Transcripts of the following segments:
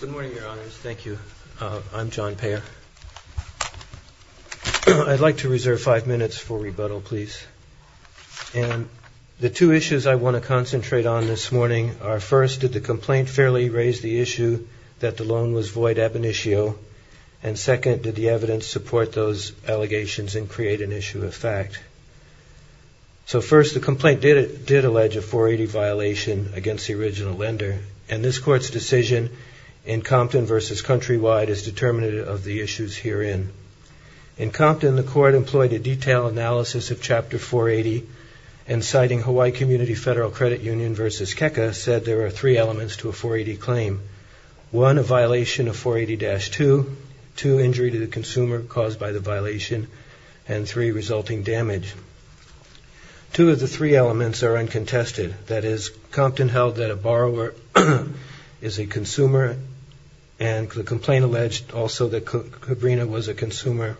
Good morning, Your Honors. Thank you. I'm John Payer. I'd like to reserve five minutes for rebuttal, please. And the two issues I want to concentrate on this morning are, first, did the complaint fairly raise the issue that the loan was void ab initio? And second, did the evidence support those allegations and create an issue of fact? So first, the complaint did allege a 480 violation against the original lender, and this Court's decision in Compton v. Countrywide is determinative of the issues herein. In Compton, the Court employed a detailed analysis of Chapter 480, and citing Hawaii Community Federal Credit Union v. KEKA, said there are three elements to a 480 claim. One, a violation of 480-2. Two, injury to the consumer caused by the violation. And three, resulting damage. Two of the three elements are uncontested. That is, Compton held that a borrower is a consumer, and the complaint alleged also that Cabrinha was a consumer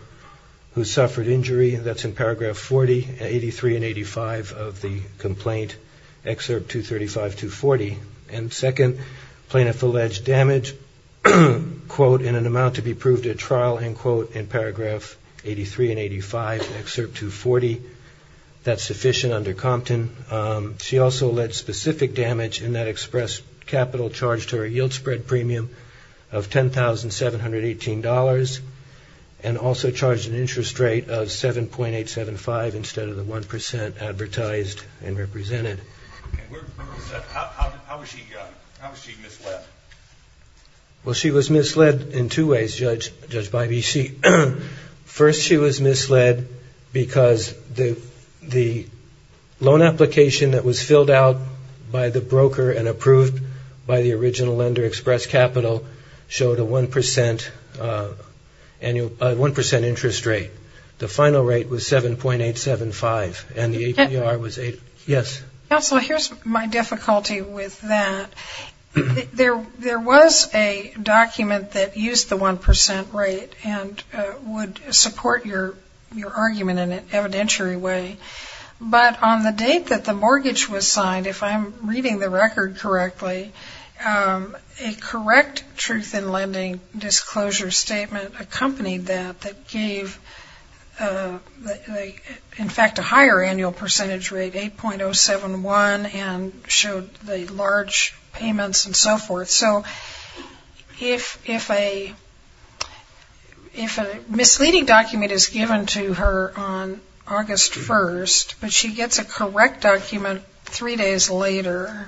who suffered injury. That's in Paragraph 40, 83, and 85 of the complaint, Excerpt 235-240. And second, plaintiff alleged damage, quote, in an amount to be proved at trial, end quote, in Paragraph 83 and 85, Excerpt 240. That's sufficient under Compton. She also led specific damage in that express capital charge to her yield spread premium of $10,718, and also charged an interest rate of 7.875 instead of the 1% advertised and represented. How was she misled? Well, she was misled in two ways, Judge Bybee. First, she was misled because the loan application that was filled out by the broker and approved by the original lender express capital showed a 1% interest rate. The final rate was 7.875, and the APR was 8. Counsel, here's my difficulty with that. There was a document that used the 1% rate and would support your argument in an evidentiary way, but on the date that the mortgage was signed, if I'm reading the record correctly, a correct truth in lending disclosure statement accompanied that that gave, in fact, a higher annual percentage rate, 8.071, and showed the large payments and so forth. So if a misleading document is given to her on August 1st, but she gets a correct document three days later,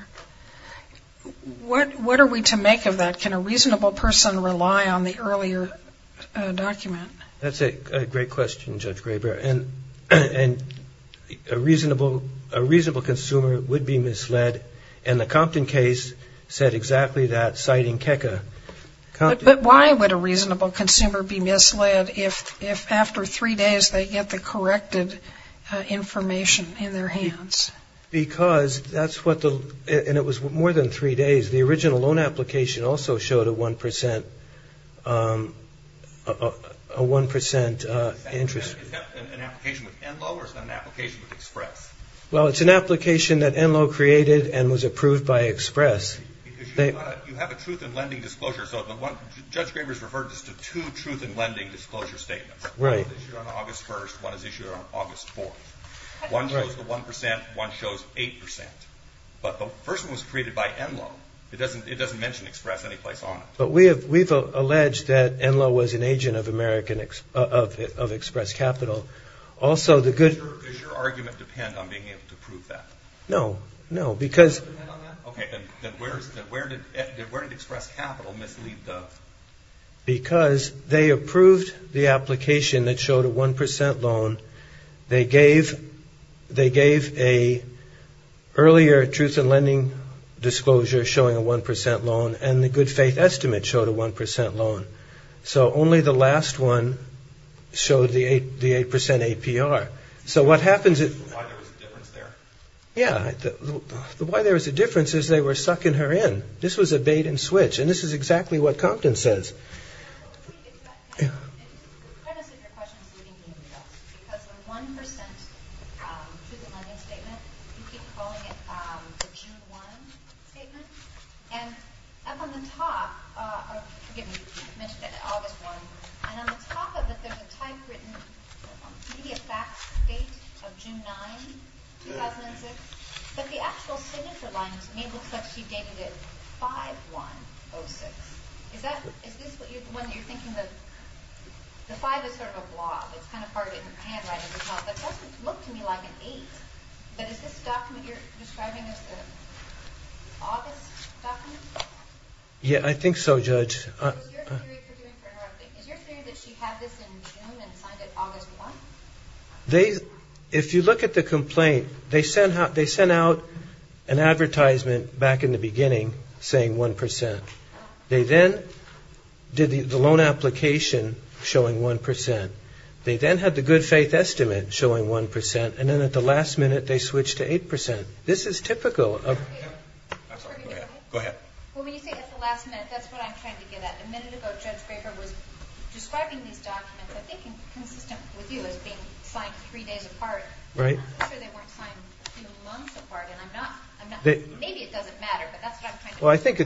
what are we to make of that? Can a reasonable person rely on the earlier document? That's a great question, Judge Graber, and a reasonable consumer would be misled, and the Compton case said exactly that, citing KECA. But why would a reasonable consumer be misled if after three days they get the corrected information in their hands? Because, and it was more than three days, the original loan application also showed a 1% interest rate. Is that an application with NLO or is that an application with Express? Well, it's an application that NLO created and was approved by Express. You have a truth in lending disclosure, so Judge Graber's referred us to two truth in lending disclosure statements. One was issued on August 1st, one was issued on August 4th. One shows the 1%, one shows 8%. But the first one was created by NLO. It doesn't mention Express any place on it. But we've alleged that NLO was an agent of Express Capital. Does your argument depend on being able to prove that? No, no, because... Okay, then where did Express Capital mislead the... Because they approved the application that showed a 1% loan. They gave an earlier truth in lending disclosure showing a 1% loan and the good faith estimate showed a 1% loan. So only the last one showed the 8% APR. So what happens is... Why there was a difference there? Yeah, why there was a difference is they were sucking her in. This was a bait-and-switch, and this is exactly what Compton says. The premise of your question is leading the invest. Because the 1% truth in lending statement, you keep calling it the June 1 statement. And up on the top... Forgive me, you mentioned it, August 1. And on the top of it, there's a typewritten media facts date of June 9, 2006. But the actual signature line looks like she dated it 5-1-0-6. Is this the one that you're thinking that... The 5 is sort of a blob. It's kind of hard to handwrite. It doesn't look to me like an 8. But is this document you're describing as the August document? Yeah, I think so, Judge. Is your theory that she had this in June and signed it August 1? If you look at the complaint, they sent out an advertisement back in the beginning saying 1%. They then did the loan application showing 1%. They then had the good-faith estimate showing 1%. And then at the last minute, they switched to 8%. This is typical of... Go ahead. Well, when you say at the last minute, that's what I'm trying to get at. A minute ago, Judge Baker was describing these documents. I think it's consistent with you as being signed three days apart. I'm not sure they weren't signed months apart. Maybe it doesn't matter, but that's what I'm trying to get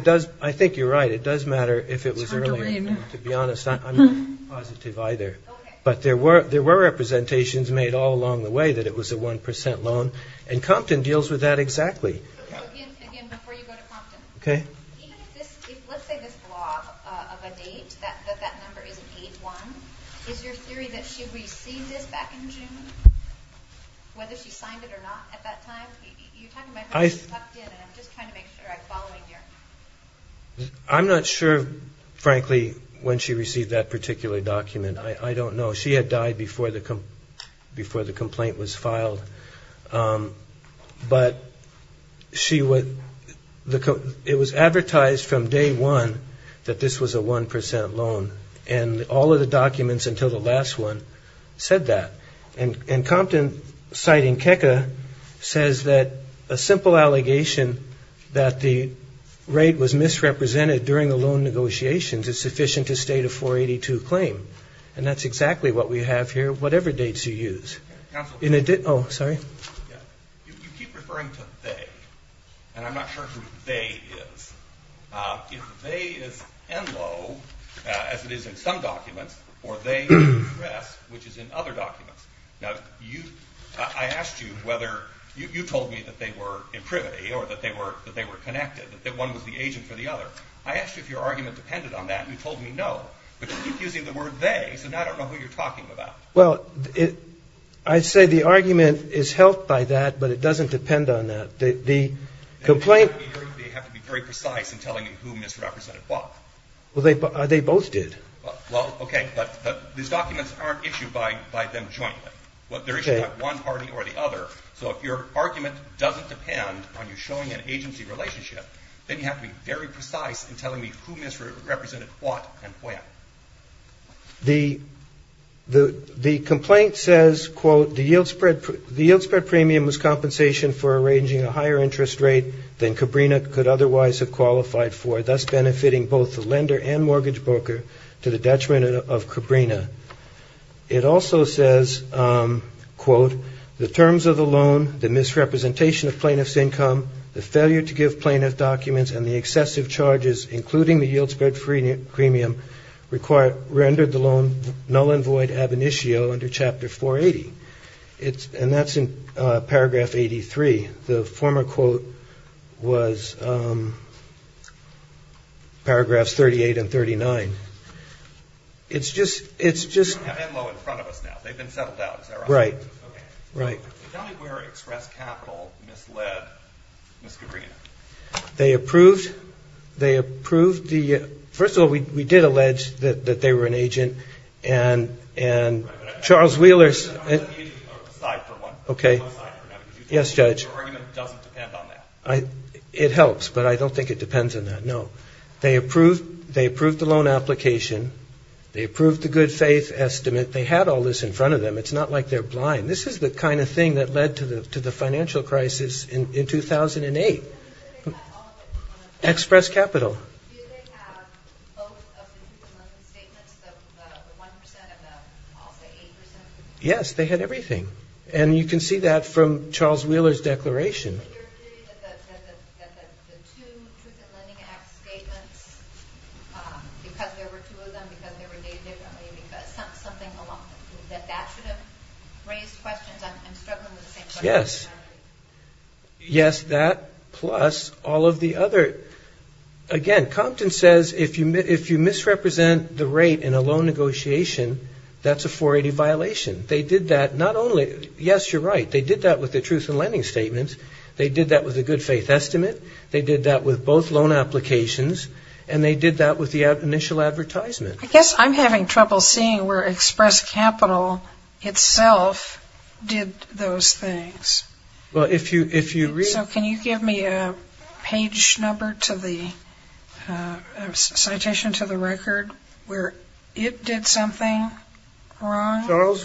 at. Well, I think you're right. It does matter if it was earlier. To be honest, I'm not positive either. But there were representations made all along the way that it was a 1% loan. Again, before you go to Compton. Okay. I'm not sure, frankly, when she received that particular document. I don't know. She had died before the complaint was filed. But it was advertised from day one that this was a 1% loan. And all of the documents until the last one said that. And Compton, citing KECA, says that a simple allegation that the rate was misrepresented during the loan negotiations is sufficient to state a 482 claim. And that's exactly what we have here, whatever dates you use. Oh, sorry. You keep referring to they. And I'm not sure who they is. If they is Enloe, as it is in some documents, or they is RESS, which is in other documents. Now, I asked you whether you told me that they were imprimity or that they were connected, that one was the agent for the other. I asked you if your argument depended on that, and you told me no. But you keep using the word they, so now I don't know who you're talking about. Well, I'd say the argument is helped by that, but it doesn't depend on that. The complaint. They have to be very precise in telling you who misrepresented what. Well, they both did. Well, okay. But these documents aren't issued by them jointly. They're issued by one party or the other. So if your argument doesn't depend on you showing an agency relationship, then you have to be very precise in telling me who misrepresented what and when. The complaint says, quote, the yield spread premium was compensation for arranging a higher interest rate than Cabrinha could otherwise have qualified for, thus benefiting both the lender and mortgage broker to the detriment of Cabrinha. It also says, quote, the terms of the loan, the misrepresentation of plaintiff's income, the failure to give plaintiff documents, and the excessive charges, including the yield spread premium rendered the loan null and void ab initio under Chapter 480. And that's in Paragraph 83. The former quote was Paragraphs 38 and 39. It's just... You have Enloe in front of us now. They've been settled out. Is that right? Right. Tell me where Express Capital misled Ms. Cabrinha. They approved... They approved the... First of all, we did allege that they were an agent. And Charles Wheeler... Let the agent decide for one. Okay. Yes, Judge. Your argument doesn't depend on that. It helps, but I don't think it depends on that. No. They approved the loan application. They approved the good faith estimate. They had all this in front of them. It's not like they're blind. This is the kind of thing that led to the financial crisis in 2008. Express Capital. Yes, they had everything. And you can see that from Charles Wheeler's declaration. Yes. Yes, that plus all of the other... Again, Compton says if you misrepresent the rate in a loan negotiation, that's a 480 violation. They did that not only... Yes, you're right. They did that with the truth in lending statements. They did that with the good faith estimate. They did that with both loan applications. And they did that with the initial advertisement. I guess I'm having trouble seeing where Express Capital itself did those things. Well, if you read... So can you give me a page number to the citation to the record where it did something wrong?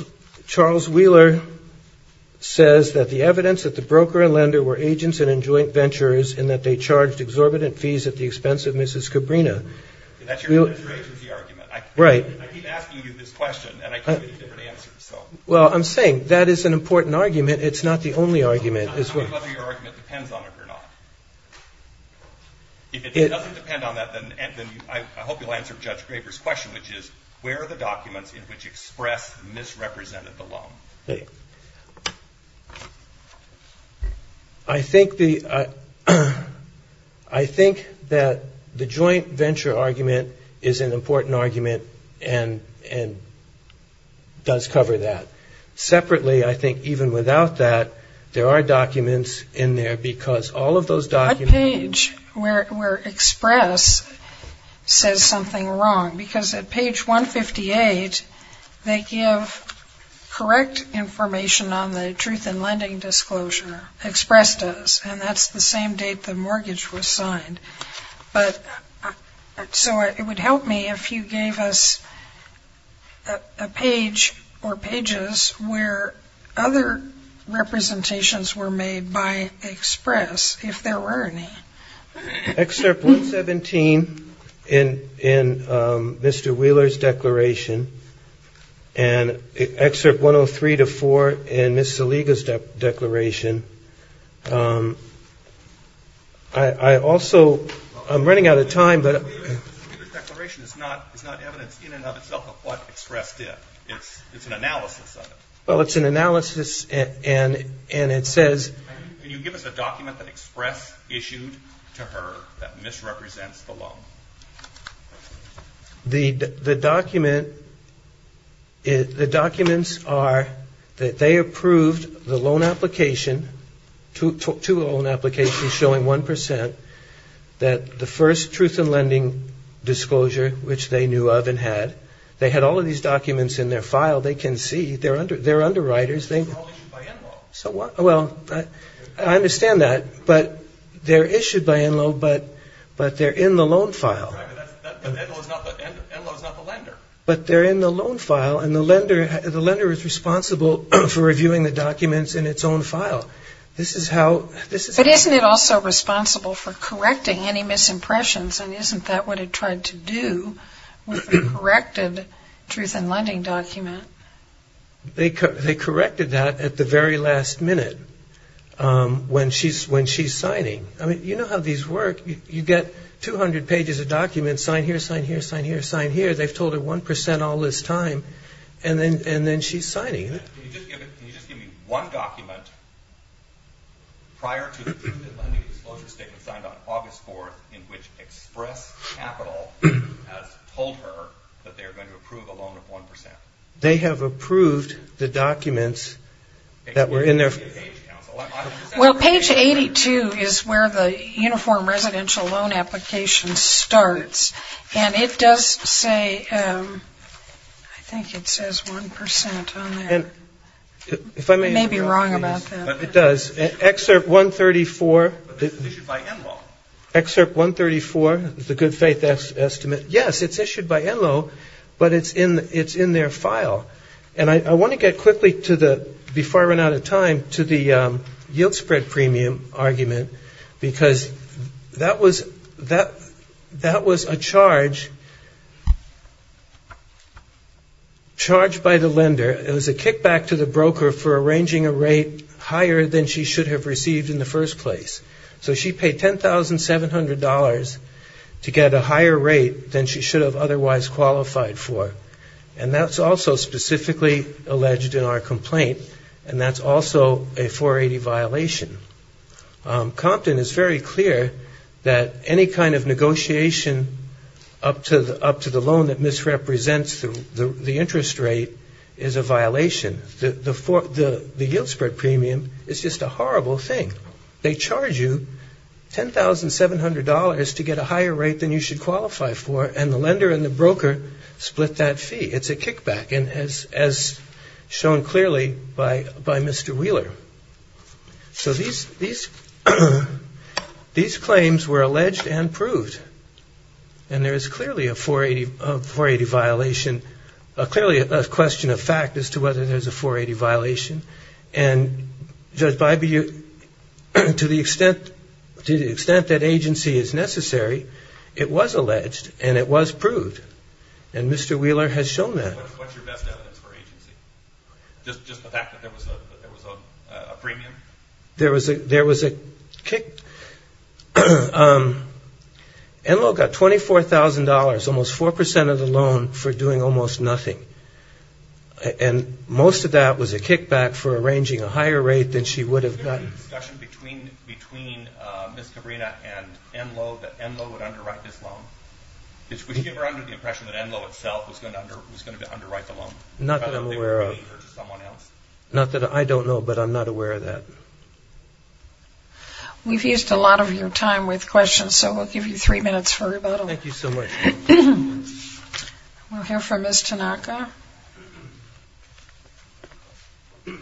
Charles Wheeler says that the evidence that the broker and lender were agents and joint venturers in that they charged exorbitant fees at the expense of Mrs. Cabrinha. That's your agency argument. Right. I keep asking you this question and I keep getting different answers, so... Well, I'm saying that is an important argument. It's not the only argument as well. I'm asking whether your argument depends on it or not. If it doesn't depend on that, then I hope you'll answer Judge Graeber's question, which is where are the documents in which Express misrepresented the loan? I think that the joint venture argument is an important argument and does cover that. Separately, I think even without that, there are documents in there because all of those documents... What page where Express says something wrong? Because at page 158, they give correct information on the truth in lending disclosure. Express does, and that's the same date the mortgage was signed. So it would help me if you gave us a page or pages where other representations were made by Express, if there were any. Excerpt 117 in Mr. Wheeler's declaration and excerpt 103-4 in Ms. Saliga's declaration. I also... I'm running out of time, but... Wheeler's declaration is not evidence in and of itself of what Express did. It's an analysis of it. Well, it's an analysis and it says... Can you give us a document that Express issued to her that misrepresents the loan? The documents are that they approved the loan application, two loan applications showing 1%, that the first truth in lending disclosure, which they knew of and had, they had all of these documents in their file. They can see. They're underwriters. They're all issued by Enloe. Well, I understand that, but they're issued by Enloe, but they're in the loan file. But Enloe is not the lender. But they're in the loan file, and the lender is responsible for reviewing the documents in its own file. This is how... But isn't it also responsible for correcting any misimpressions, and isn't that what it tried to do with the corrected truth in lending document? They corrected that at the very last minute when she's signing. You know how these work. You get 200 pages of documents, sign here, sign here, sign here, sign here. They've told her 1% all this time, and then she's signing. Can you just give me one document prior to the truth in lending disclosure statement signed on August 4th in which Express Capital has told her that they're going to approve a loan of 1%? They have approved the documents that were in their... Well, page 82 is where the uniform residential loan application starts, and it does say, I think it says 1% on there. I may be wrong about that. It does. Excerpt 134. But this is issued by Enloe. Excerpt 134, the good faith estimate. Yes, it's issued by Enloe, but it's in their file. And I want to get quickly to the, before I run out of time, to the yield spread premium argument, because that was a charge charged by the lender. It was a kickback to the broker for arranging a rate higher than she should have received in the first place. So she paid $10,700 to get a higher rate than she should have otherwise qualified for. And that's also specifically alleged in our complaint, and that's also a 480 violation. Compton is very clear that any kind of negotiation up to the loan that misrepresents the interest rate is a violation. The yield spread premium is just a horrible thing. They charge you $10,700 to get a higher rate than you should qualify for, and the lender and the broker split that fee. It's a kickback, as shown clearly by Mr. Wheeler. So these claims were alleged and proved, and there is clearly a 480 violation, clearly a question of fact as to whether there's a 480 violation. And, Judge Bybee, to the extent that agency is necessary, it was alleged and it was proved. And Mr. Wheeler has shown that. What's your best evidence for agency? Just the fact that there was a premium? There was a kick. Enloe got $24,000, almost 4% of the loan, for doing almost nothing. And most of that was a kickback for arranging a higher rate than she would have gotten. Is there any discussion between Ms. Cabrera and Enloe that Enloe would underwrite this loan? Did you ever get the impression that Enloe itself was going to underwrite the loan? Not that I'm aware of. Not that I don't know, but I'm not aware of that. We've used a lot of your time with questions, so we'll give you three minutes for rebuttal. Thank you so much. We'll hear from Ms. Tanaka. Good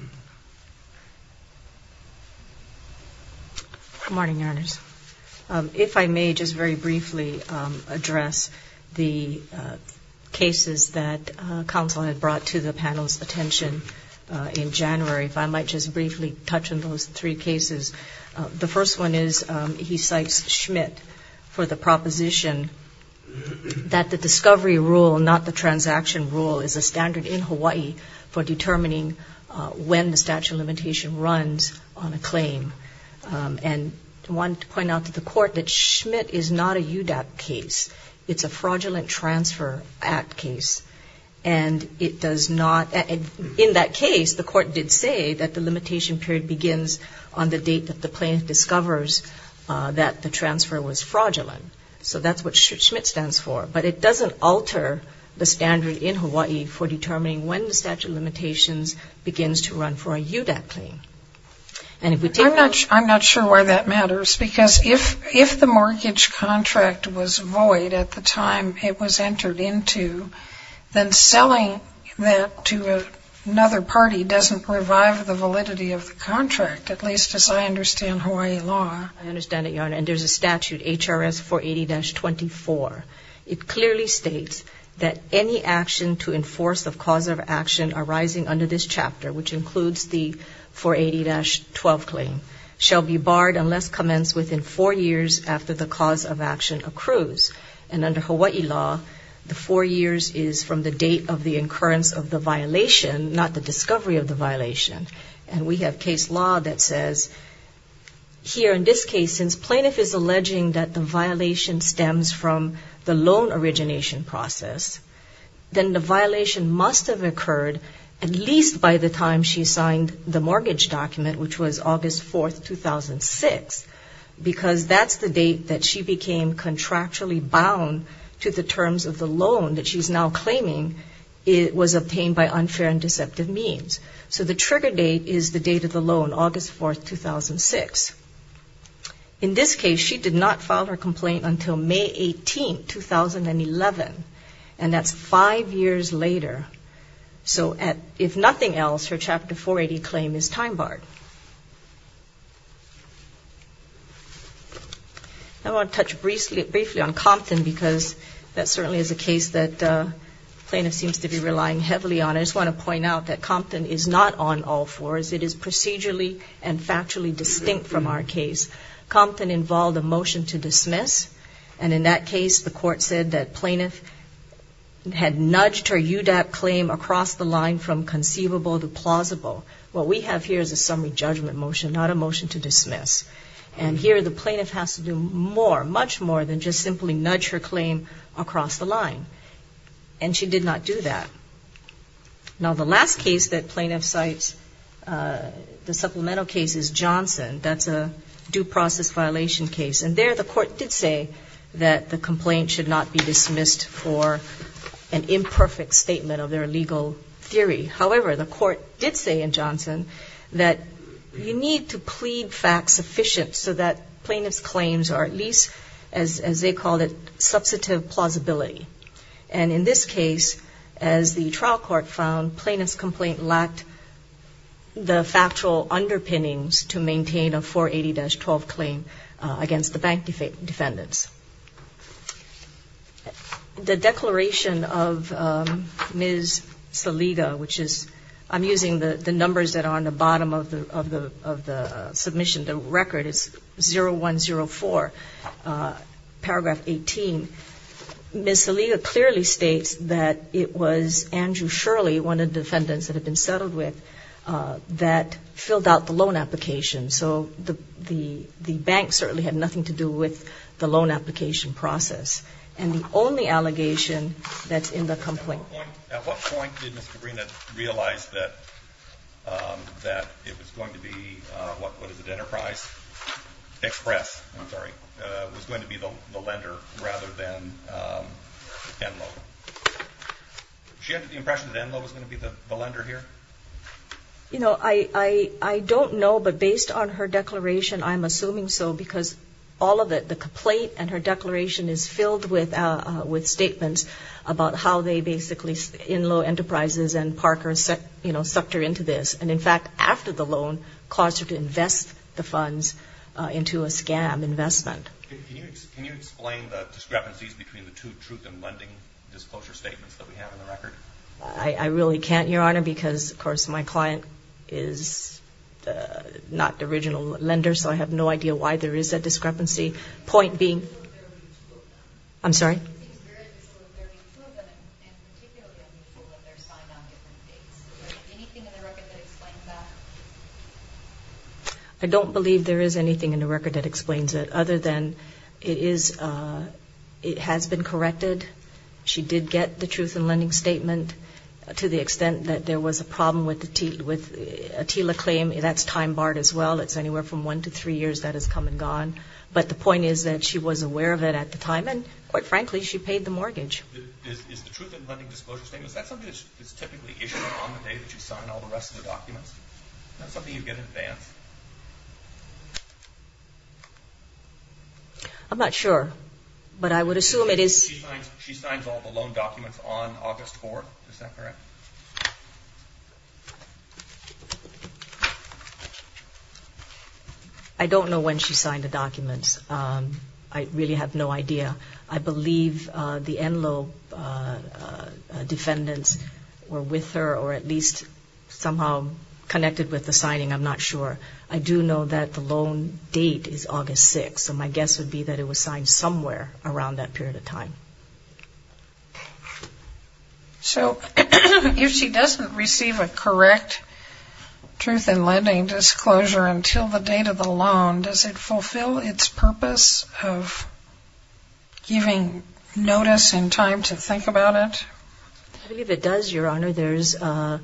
morning, Your Honors. If I may just very briefly address the cases that counsel had brought to the panel's attention in January, if I might just briefly touch on those three cases. The first one is he cites Schmidt for the proposition that the discovery rule, not the transaction rule, is a standard in Hawaii for determining when the statute of limitation runs on a claim. And I wanted to point out to the Court that Schmidt is not a UDAP case. It's a Fraudulent Transfer Act case. And it does not – in that case, the Court did say that the limitation period begins on the date that the claim discovers that the transfer was fraudulent. So that's what Schmidt stands for. But it doesn't alter the standard in Hawaii for determining when the statute of limitations begins to run for a UDAP claim. I'm not sure why that matters. Because if the mortgage contract was void at the time it was entered into, then selling that to another party doesn't revive the validity of the contract, at least as I understand Hawaii law. I understand it, Your Honor. And there's a statute, HRS 480-24. It clearly states that any action to enforce the cause of action arising under this chapter, which includes the 480-12 claim, shall be barred unless commenced within four years after the cause of action accrues. And under Hawaii law, the four years is from the date of the occurrence of the violation, not the discovery of the violation. And we have case law that says, here in this case, since plaintiff is alleging that the violation stems from the loan origination process, then the violation must have occurred at least by the time she signed the mortgage document, which was August 4, 2006, because that's the date that she became contractually bound to the terms of the loan that she's now claiming was obtained by unfair and deceptive means. So the trigger date is the date of the loan, August 4, 2006. In this case, she did not file her complaint until May 18, 2011. And that's five years later. So if nothing else, her Chapter 480 claim is time-barred. I want to touch briefly on Compton because that certainly is a case that plaintiff seems to be relying heavily on. I just want to point out that Compton is not on all fours. It is procedurally and factually distinct from our case. Compton involved a motion to dismiss. And in that case, the court said that plaintiff had nudged her UDAP claim across the line from conceivable to plausible. What we have here is a summary judgment motion, not a motion to dismiss. And here the plaintiff has to do more, much more, than just simply nudge her claim across the line. And she did not do that. Now, the last case that plaintiff cites, the supplemental case, is Johnson. That's a due process violation case. And there the court did say that the complaint should not be dismissed for an imperfect statement of their legal theory. However, the court did say in Johnson that you need to plead facts sufficient so that plaintiff's claims are at least, as they called it, substantive plausibility. And in this case, as the trial court found, the plaintiff's complaint lacked the factual underpinnings to maintain a 480-12 claim against the bank defendants. The declaration of Ms. Saliga, which is ‑‑ I'm using the numbers that are on the bottom of the submission. The record is 0104, paragraph 18. Ms. Saliga clearly states that it was Andrew Shirley, one of the defendants that had been settled with, that filled out the loan application. So the bank certainly had nothing to do with the loan application process. And the only allegation that's in the complaint ‑‑ At what point did Ms. Cabrera realize that it was going to be, what is it, Enterprise? Express, I'm sorry, was going to be the lender rather than Enlo. Did she have the impression that Enlo was going to be the lender here? You know, I don't know. But based on her declaration, I'm assuming so because all of it, the complaint and her declaration, is filled with statements about how they basically ‑‑ Enlo Enterprises and Parker, you know, sucked her into this. And in fact, after the loan, caused her to invest the funds into a scam investment. Can you explain the discrepancies between the two truth and lending disclosure statements that we have in the record? I really can't, Your Honor, because, of course, my client is not the original lender, so I have no idea why there is a discrepancy. It seems very unusual that there are two of them, and particularly unusual that they're signed on different dates. Is there anything in the record that explains that? I don't believe there is anything in the record that explains it, other than it has been corrected. She did get the truth in lending statement to the extent that there was a problem with a TILA claim. That's time barred as well. It's anywhere from one to three years. That has come and gone. But the point is that she was aware of it at the time, and quite frankly, she paid the mortgage. Is the truth in lending disclosure statement, is that something that's typically issued on the day that you sign all the rest of the documents? Is that something you get in advance? I'm not sure, but I would assume it is. She signs all the loan documents on August 4th, is that correct? I don't know when she signed the documents. I really have no idea. I believe the Enloe defendants were with her or at least somehow connected with the signing. I'm not sure. I do know that the loan date is August 6th, so my guess would be that it was signed somewhere around that period of time. So if she doesn't receive a correct truth in lending disclosure until the date of the loan, does it fulfill its purpose of giving notice and time to think about it? I believe it does, Your Honor. There's a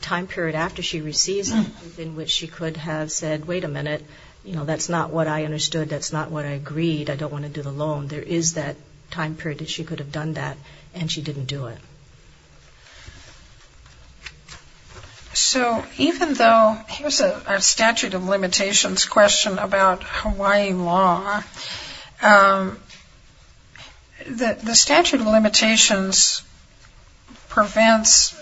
time period after she receives it in which she could have said, wait a minute, you know, that's not what I understood. That's not what I agreed. I don't want to do the loan. There is that time period that she could have done that, and she didn't do it. So even though here's a statute of limitations question about Hawaiian law, the statute of limitations prevents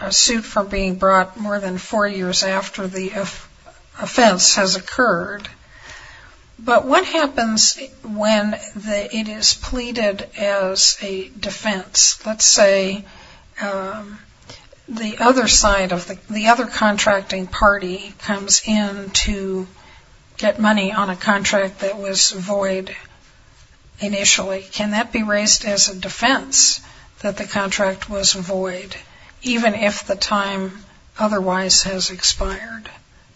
a suit from being brought more than four years after the offense has occurred. But what happens when it is pleaded as a defense? Let's say the other contracting party comes in to get money on a contract that was void initially. Can that be raised as a defense that the contract was void, even if the time otherwise has expired?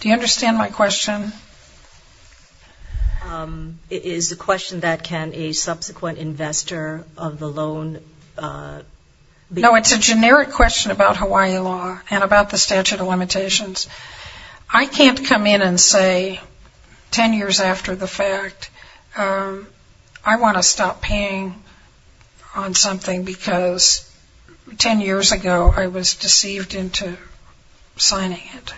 Do you understand my question? It is a question that can a subsequent investor of the loan? No, it's a generic question about Hawaiian law and about the statute of limitations. I can't come in and say ten years after the fact I want to stop paying on something because ten years ago I was deceived into signing it.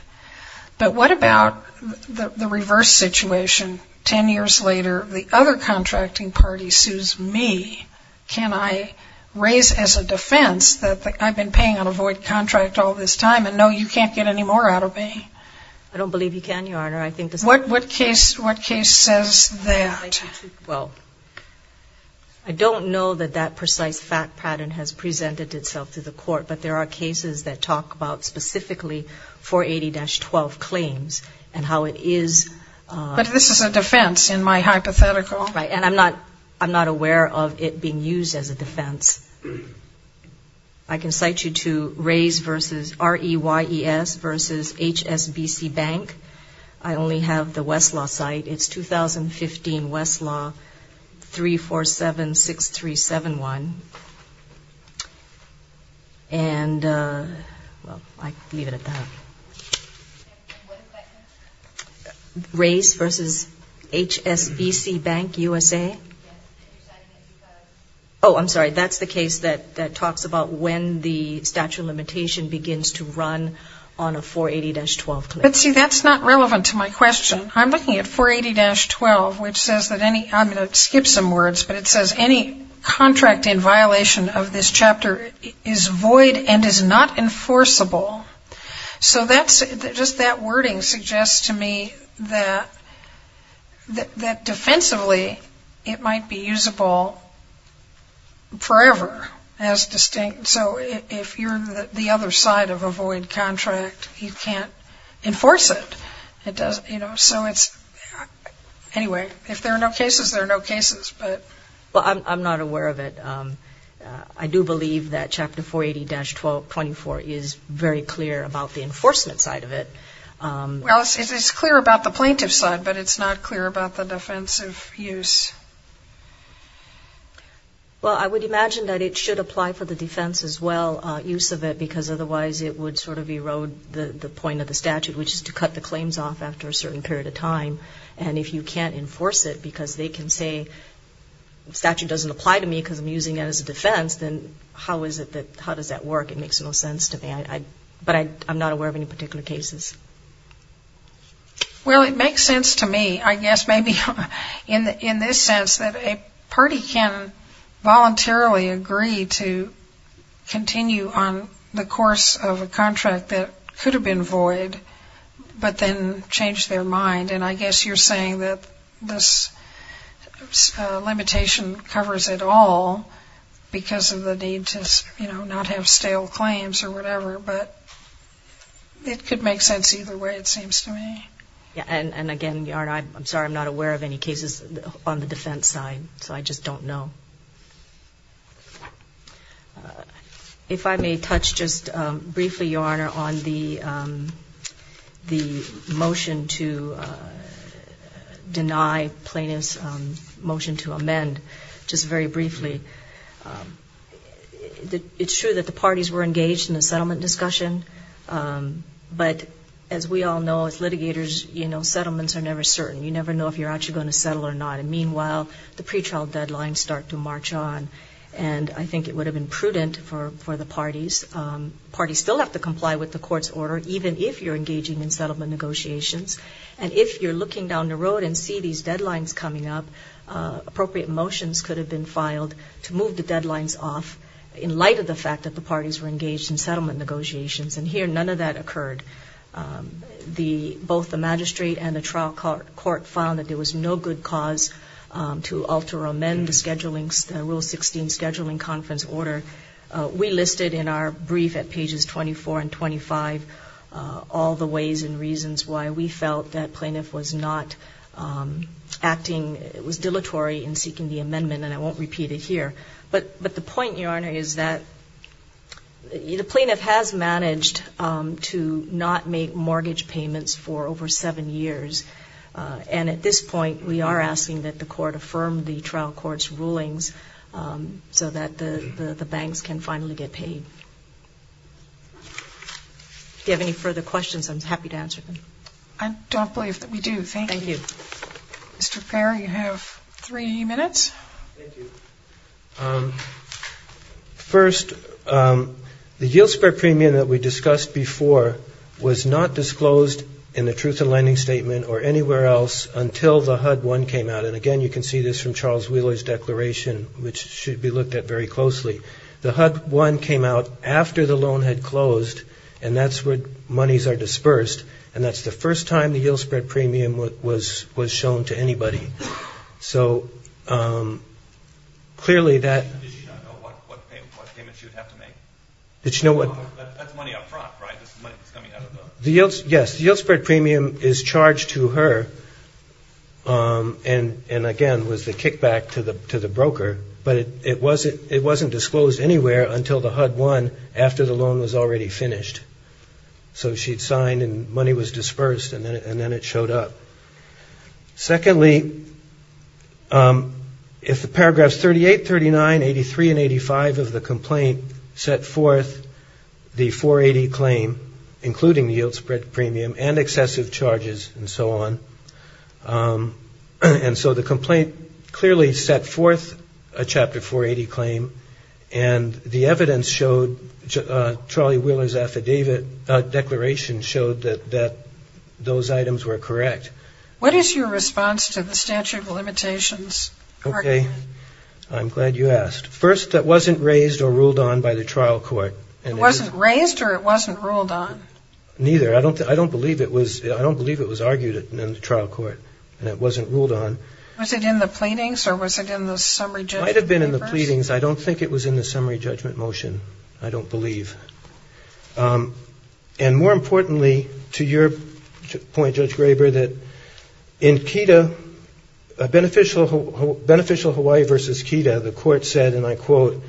But what about the reverse situation? Ten years later, the other contracting party sues me. Can I raise as a defense that I've been paying on a void contract all this time, and no, you can't get any more out of me? I don't believe you can, Your Honor. What case says that? Well, I don't know that that precise fact pattern has presented itself to the court, but there are cases that talk about specifically 480-12 claims and how it is. But this is a defense in my hypothetical. Right. And I'm not aware of it being used as a defense. I can cite you to Rays v. R.E.Y.E.S. v. H.S.B.C. Bank. I only have the Westlaw site. It's 2015 Westlaw 3476371. And, well, I leave it at that. And what is that case? Rays v. H.S.B.C. Bank, USA. Yes, and you're citing it because? Oh, I'm sorry. That's the case that talks about when the statute of limitation begins to run on a 480-12 claim. But, see, that's not relevant to my question. I'm looking at 480-12, which says that any, I'm going to skip some words, but it says any contract in violation of this chapter is void and is not enforceable. So just that wording suggests to me that defensively it might be usable forever as distinct. So if you're the other side of a void contract, you can't enforce it. So anyway, if there are no cases, there are no cases. Well, I'm not aware of it. I do believe that Chapter 480-24 is very clear about the enforcement side of it. Well, it's clear about the plaintiff's side, but it's not clear about the defensive use. Well, I would imagine that it should apply for the defense as well, use of it, because otherwise it would sort of erode the point of the statute, which is to cut the claims off after a certain period of time. And if you can't enforce it because they can say statute doesn't apply to me because I'm using it as a defense, then how does that work? It makes no sense to me. But I'm not aware of any particular cases. Well, it makes sense to me, I guess maybe in this sense, that a party can voluntarily agree to continue on the course of a contract that could have been void, but then change their mind. And I guess you're saying that this limitation covers it all because of the need to, you know, not have stale claims or whatever. But it could make sense either way, it seems to me. And again, Your Honor, I'm sorry, I'm not aware of any cases on the defense side, so I just don't know. If I may touch just briefly, Your Honor, on the motion to deny plaintiff's motion to amend, just very briefly. It's true that the parties were engaged in the settlement discussion, but as we all know, as litigators, you know, settlements are never certain. You never know if you're actually going to settle or not. And meanwhile, the pretrial deadlines start to march on, and I think it would have been prudent for the parties. Parties still have to comply with the court's order, even if you're engaging in settlement negotiations. And if you're looking down the road and see these deadlines coming up, appropriate motions could have been filed to move the deadlines off, in light of the fact that the parties were engaged in settlement negotiations. And here, none of that occurred. Both the magistrate and the trial court found that there was no good cause to alter or amend the Scheduling Rule 16 Scheduling Conference Order. We listed in our brief at pages 24 and 25 all the ways and reasons why we felt that plaintiff was not acting, was dilatory in seeking the amendment, and I won't repeat it here. But the point, Your Honor, is that the plaintiff has managed to not make mortgage payments for over seven years. And at this point, we are asking that the court affirm the trial court's rulings so that the banks can finally get paid. Do you have any further questions? I'm happy to answer them. I don't believe that we do. Thank you. Thank you. Mr. Fair, you have three minutes. Thank you. First, the yield spread premium that we discussed before was not disclosed in the Truth in Lending Statement or anywhere else until the HUD-1 came out. And, again, you can see this from Charles Wheeler's declaration, which should be looked at very closely. The HUD-1 came out after the loan had closed, and that's when monies are dispersed, and that's the first time the yield spread premium was shown to anybody. So clearly that – Did she not know what payment she would have to make? Did she know what – That's money up front, right? This is money that's coming out of the – Yes. The yield spread premium is charged to her, and, again, was the kickback to the broker. But it wasn't disclosed anywhere until the HUD-1, after the loan was already finished. So she'd signed, and money was dispersed, and then it showed up. Secondly, if the paragraphs 38, 39, 83, and 85 of the complaint set forth the 480 claim, including the yield spread premium and excessive charges and so on, and so the complaint clearly set forth a Chapter 480 claim, and the evidence showed – Charlie Wheeler's affidavit declaration showed that those items were correct. What is your response to the statute of limitations? Okay. I'm glad you asked. First, it wasn't raised or ruled on by the trial court. It wasn't raised or it wasn't ruled on? Neither. I don't believe it was argued in the trial court, and it wasn't ruled on. Was it in the pleadings, or was it in the summary judgment papers? It might have been in the pleadings. I don't think it was in the summary judgment motion. I don't believe. And more importantly, to your point, Judge Graber, that in KEDA, Beneficial Hawaii v. KEDA, the court said, and I quote,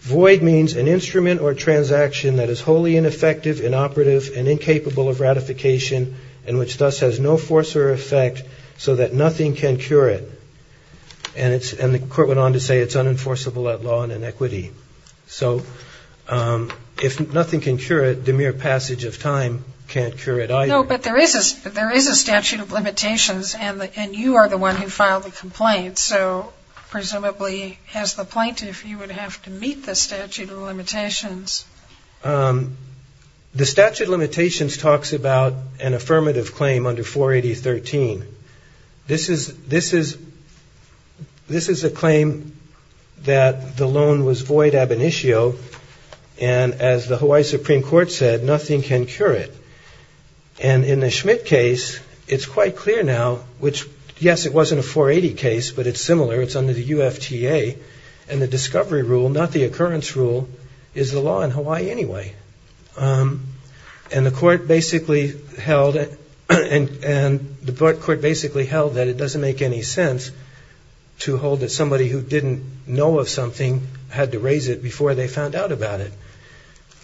void means an instrument or transaction that is wholly ineffective, inoperative, and incapable of ratification, and which thus has no force or effect, so that nothing can cure it. And the court went on to say it's unenforceable at law and in equity. So if nothing can cure it, the mere passage of time can't cure it either. No, but there is a statute of limitations, and you are the one who filed the complaint. So presumably, as the plaintiff, you would have to meet the statute of limitations. The statute of limitations talks about an affirmative claim under 480.13. This is a claim that the loan was void ab initio, and as the Hawaii Supreme Court said, nothing can cure it. And in the Schmidt case, it's quite clear now, which, yes, it wasn't a 480 case, but it's similar. It's under the UFTA, and the discovery rule, not the occurrence rule, is the law in Hawaii anyway. And the court basically held that it doesn't make any sense to hold that somebody who didn't know of something had to raise it before they found out about it.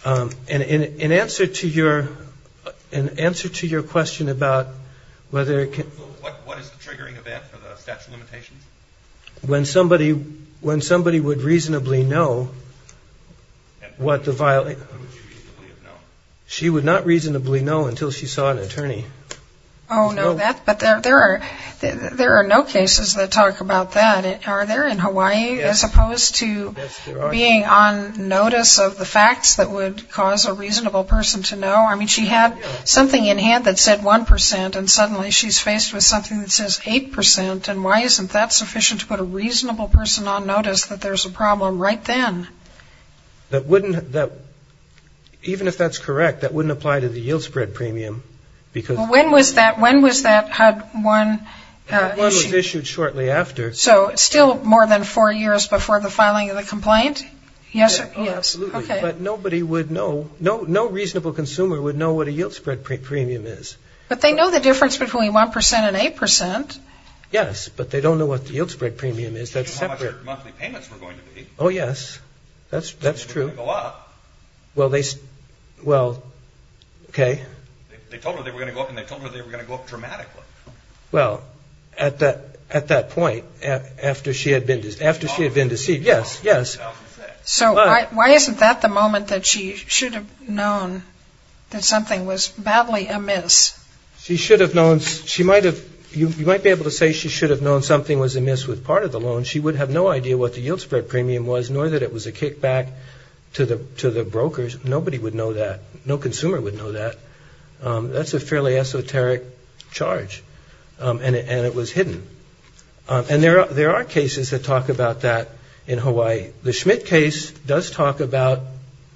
And in answer to your question about whether it can... What is the triggering event for the statute of limitations? When somebody would reasonably know what the violation... She would not reasonably know until she saw an attorney. Oh, no, but there are no cases that talk about that. Are there in Hawaii, as opposed to being on notice of the facts that would cause a reasonable person to know? I mean, she had something in hand that said 1%, and suddenly she's faced with something that says 8%, and why isn't that sufficient to put a reasonable person on notice that there's a problem right then? That wouldn't... Even if that's correct, that wouldn't apply to the yield spread premium, because... Well, when was that? When was that? Had one... One was issued shortly after. So still more than four years before the filing of the complaint? Yes, absolutely. Okay. But nobody would know... No reasonable consumer would know what a yield spread premium is. But they know the difference between 1% and 8%. Yes, but they don't know what the yield spread premium is. That's separate. She didn't know how much her monthly payments were going to be. Oh, yes. That's true. They were going to go up. Well, they... Well... Okay. They told her they were going to go up, and they told her they were going to go up dramatically. Well, at that point, after she had been deceived, yes, yes. So why isn't that the moment that she should have known that something was badly amiss? She should have known... She might have... You might be able to say she should have known something was amiss with part of the loan. She would have no idea what the yield spread premium was, nor that it was a kickback to the brokers. Nobody would know that. No consumer would know that. That's a fairly esoteric charge, and it was hidden. And there are cases that talk about that in Hawaii. The Schmidt case does talk about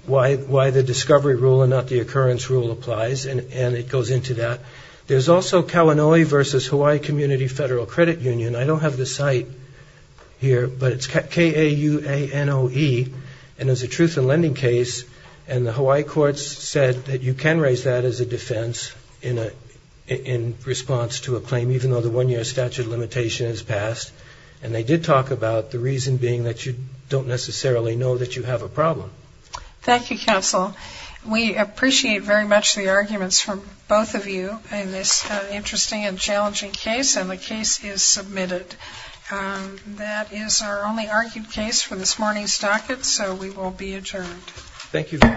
why the discovery rule and not the occurrence rule applies, and it goes into that. There's also Kalanui v. Hawaii Community Federal Credit Union. I don't have the site here, but it's K-A-U-A-N-O-E, and it's a truth in lending case. And the Hawaii courts said that you can raise that as a defense in response to a claim, even though the one-year statute of limitation has passed. And they did talk about the reason being that you don't necessarily know that you have a problem. Thank you, counsel. We appreciate very much the arguments from both of you in this interesting and challenging case, and the case is submitted. That is our only argued case for this morning's docket, so we will be adjourned. Thank you very much.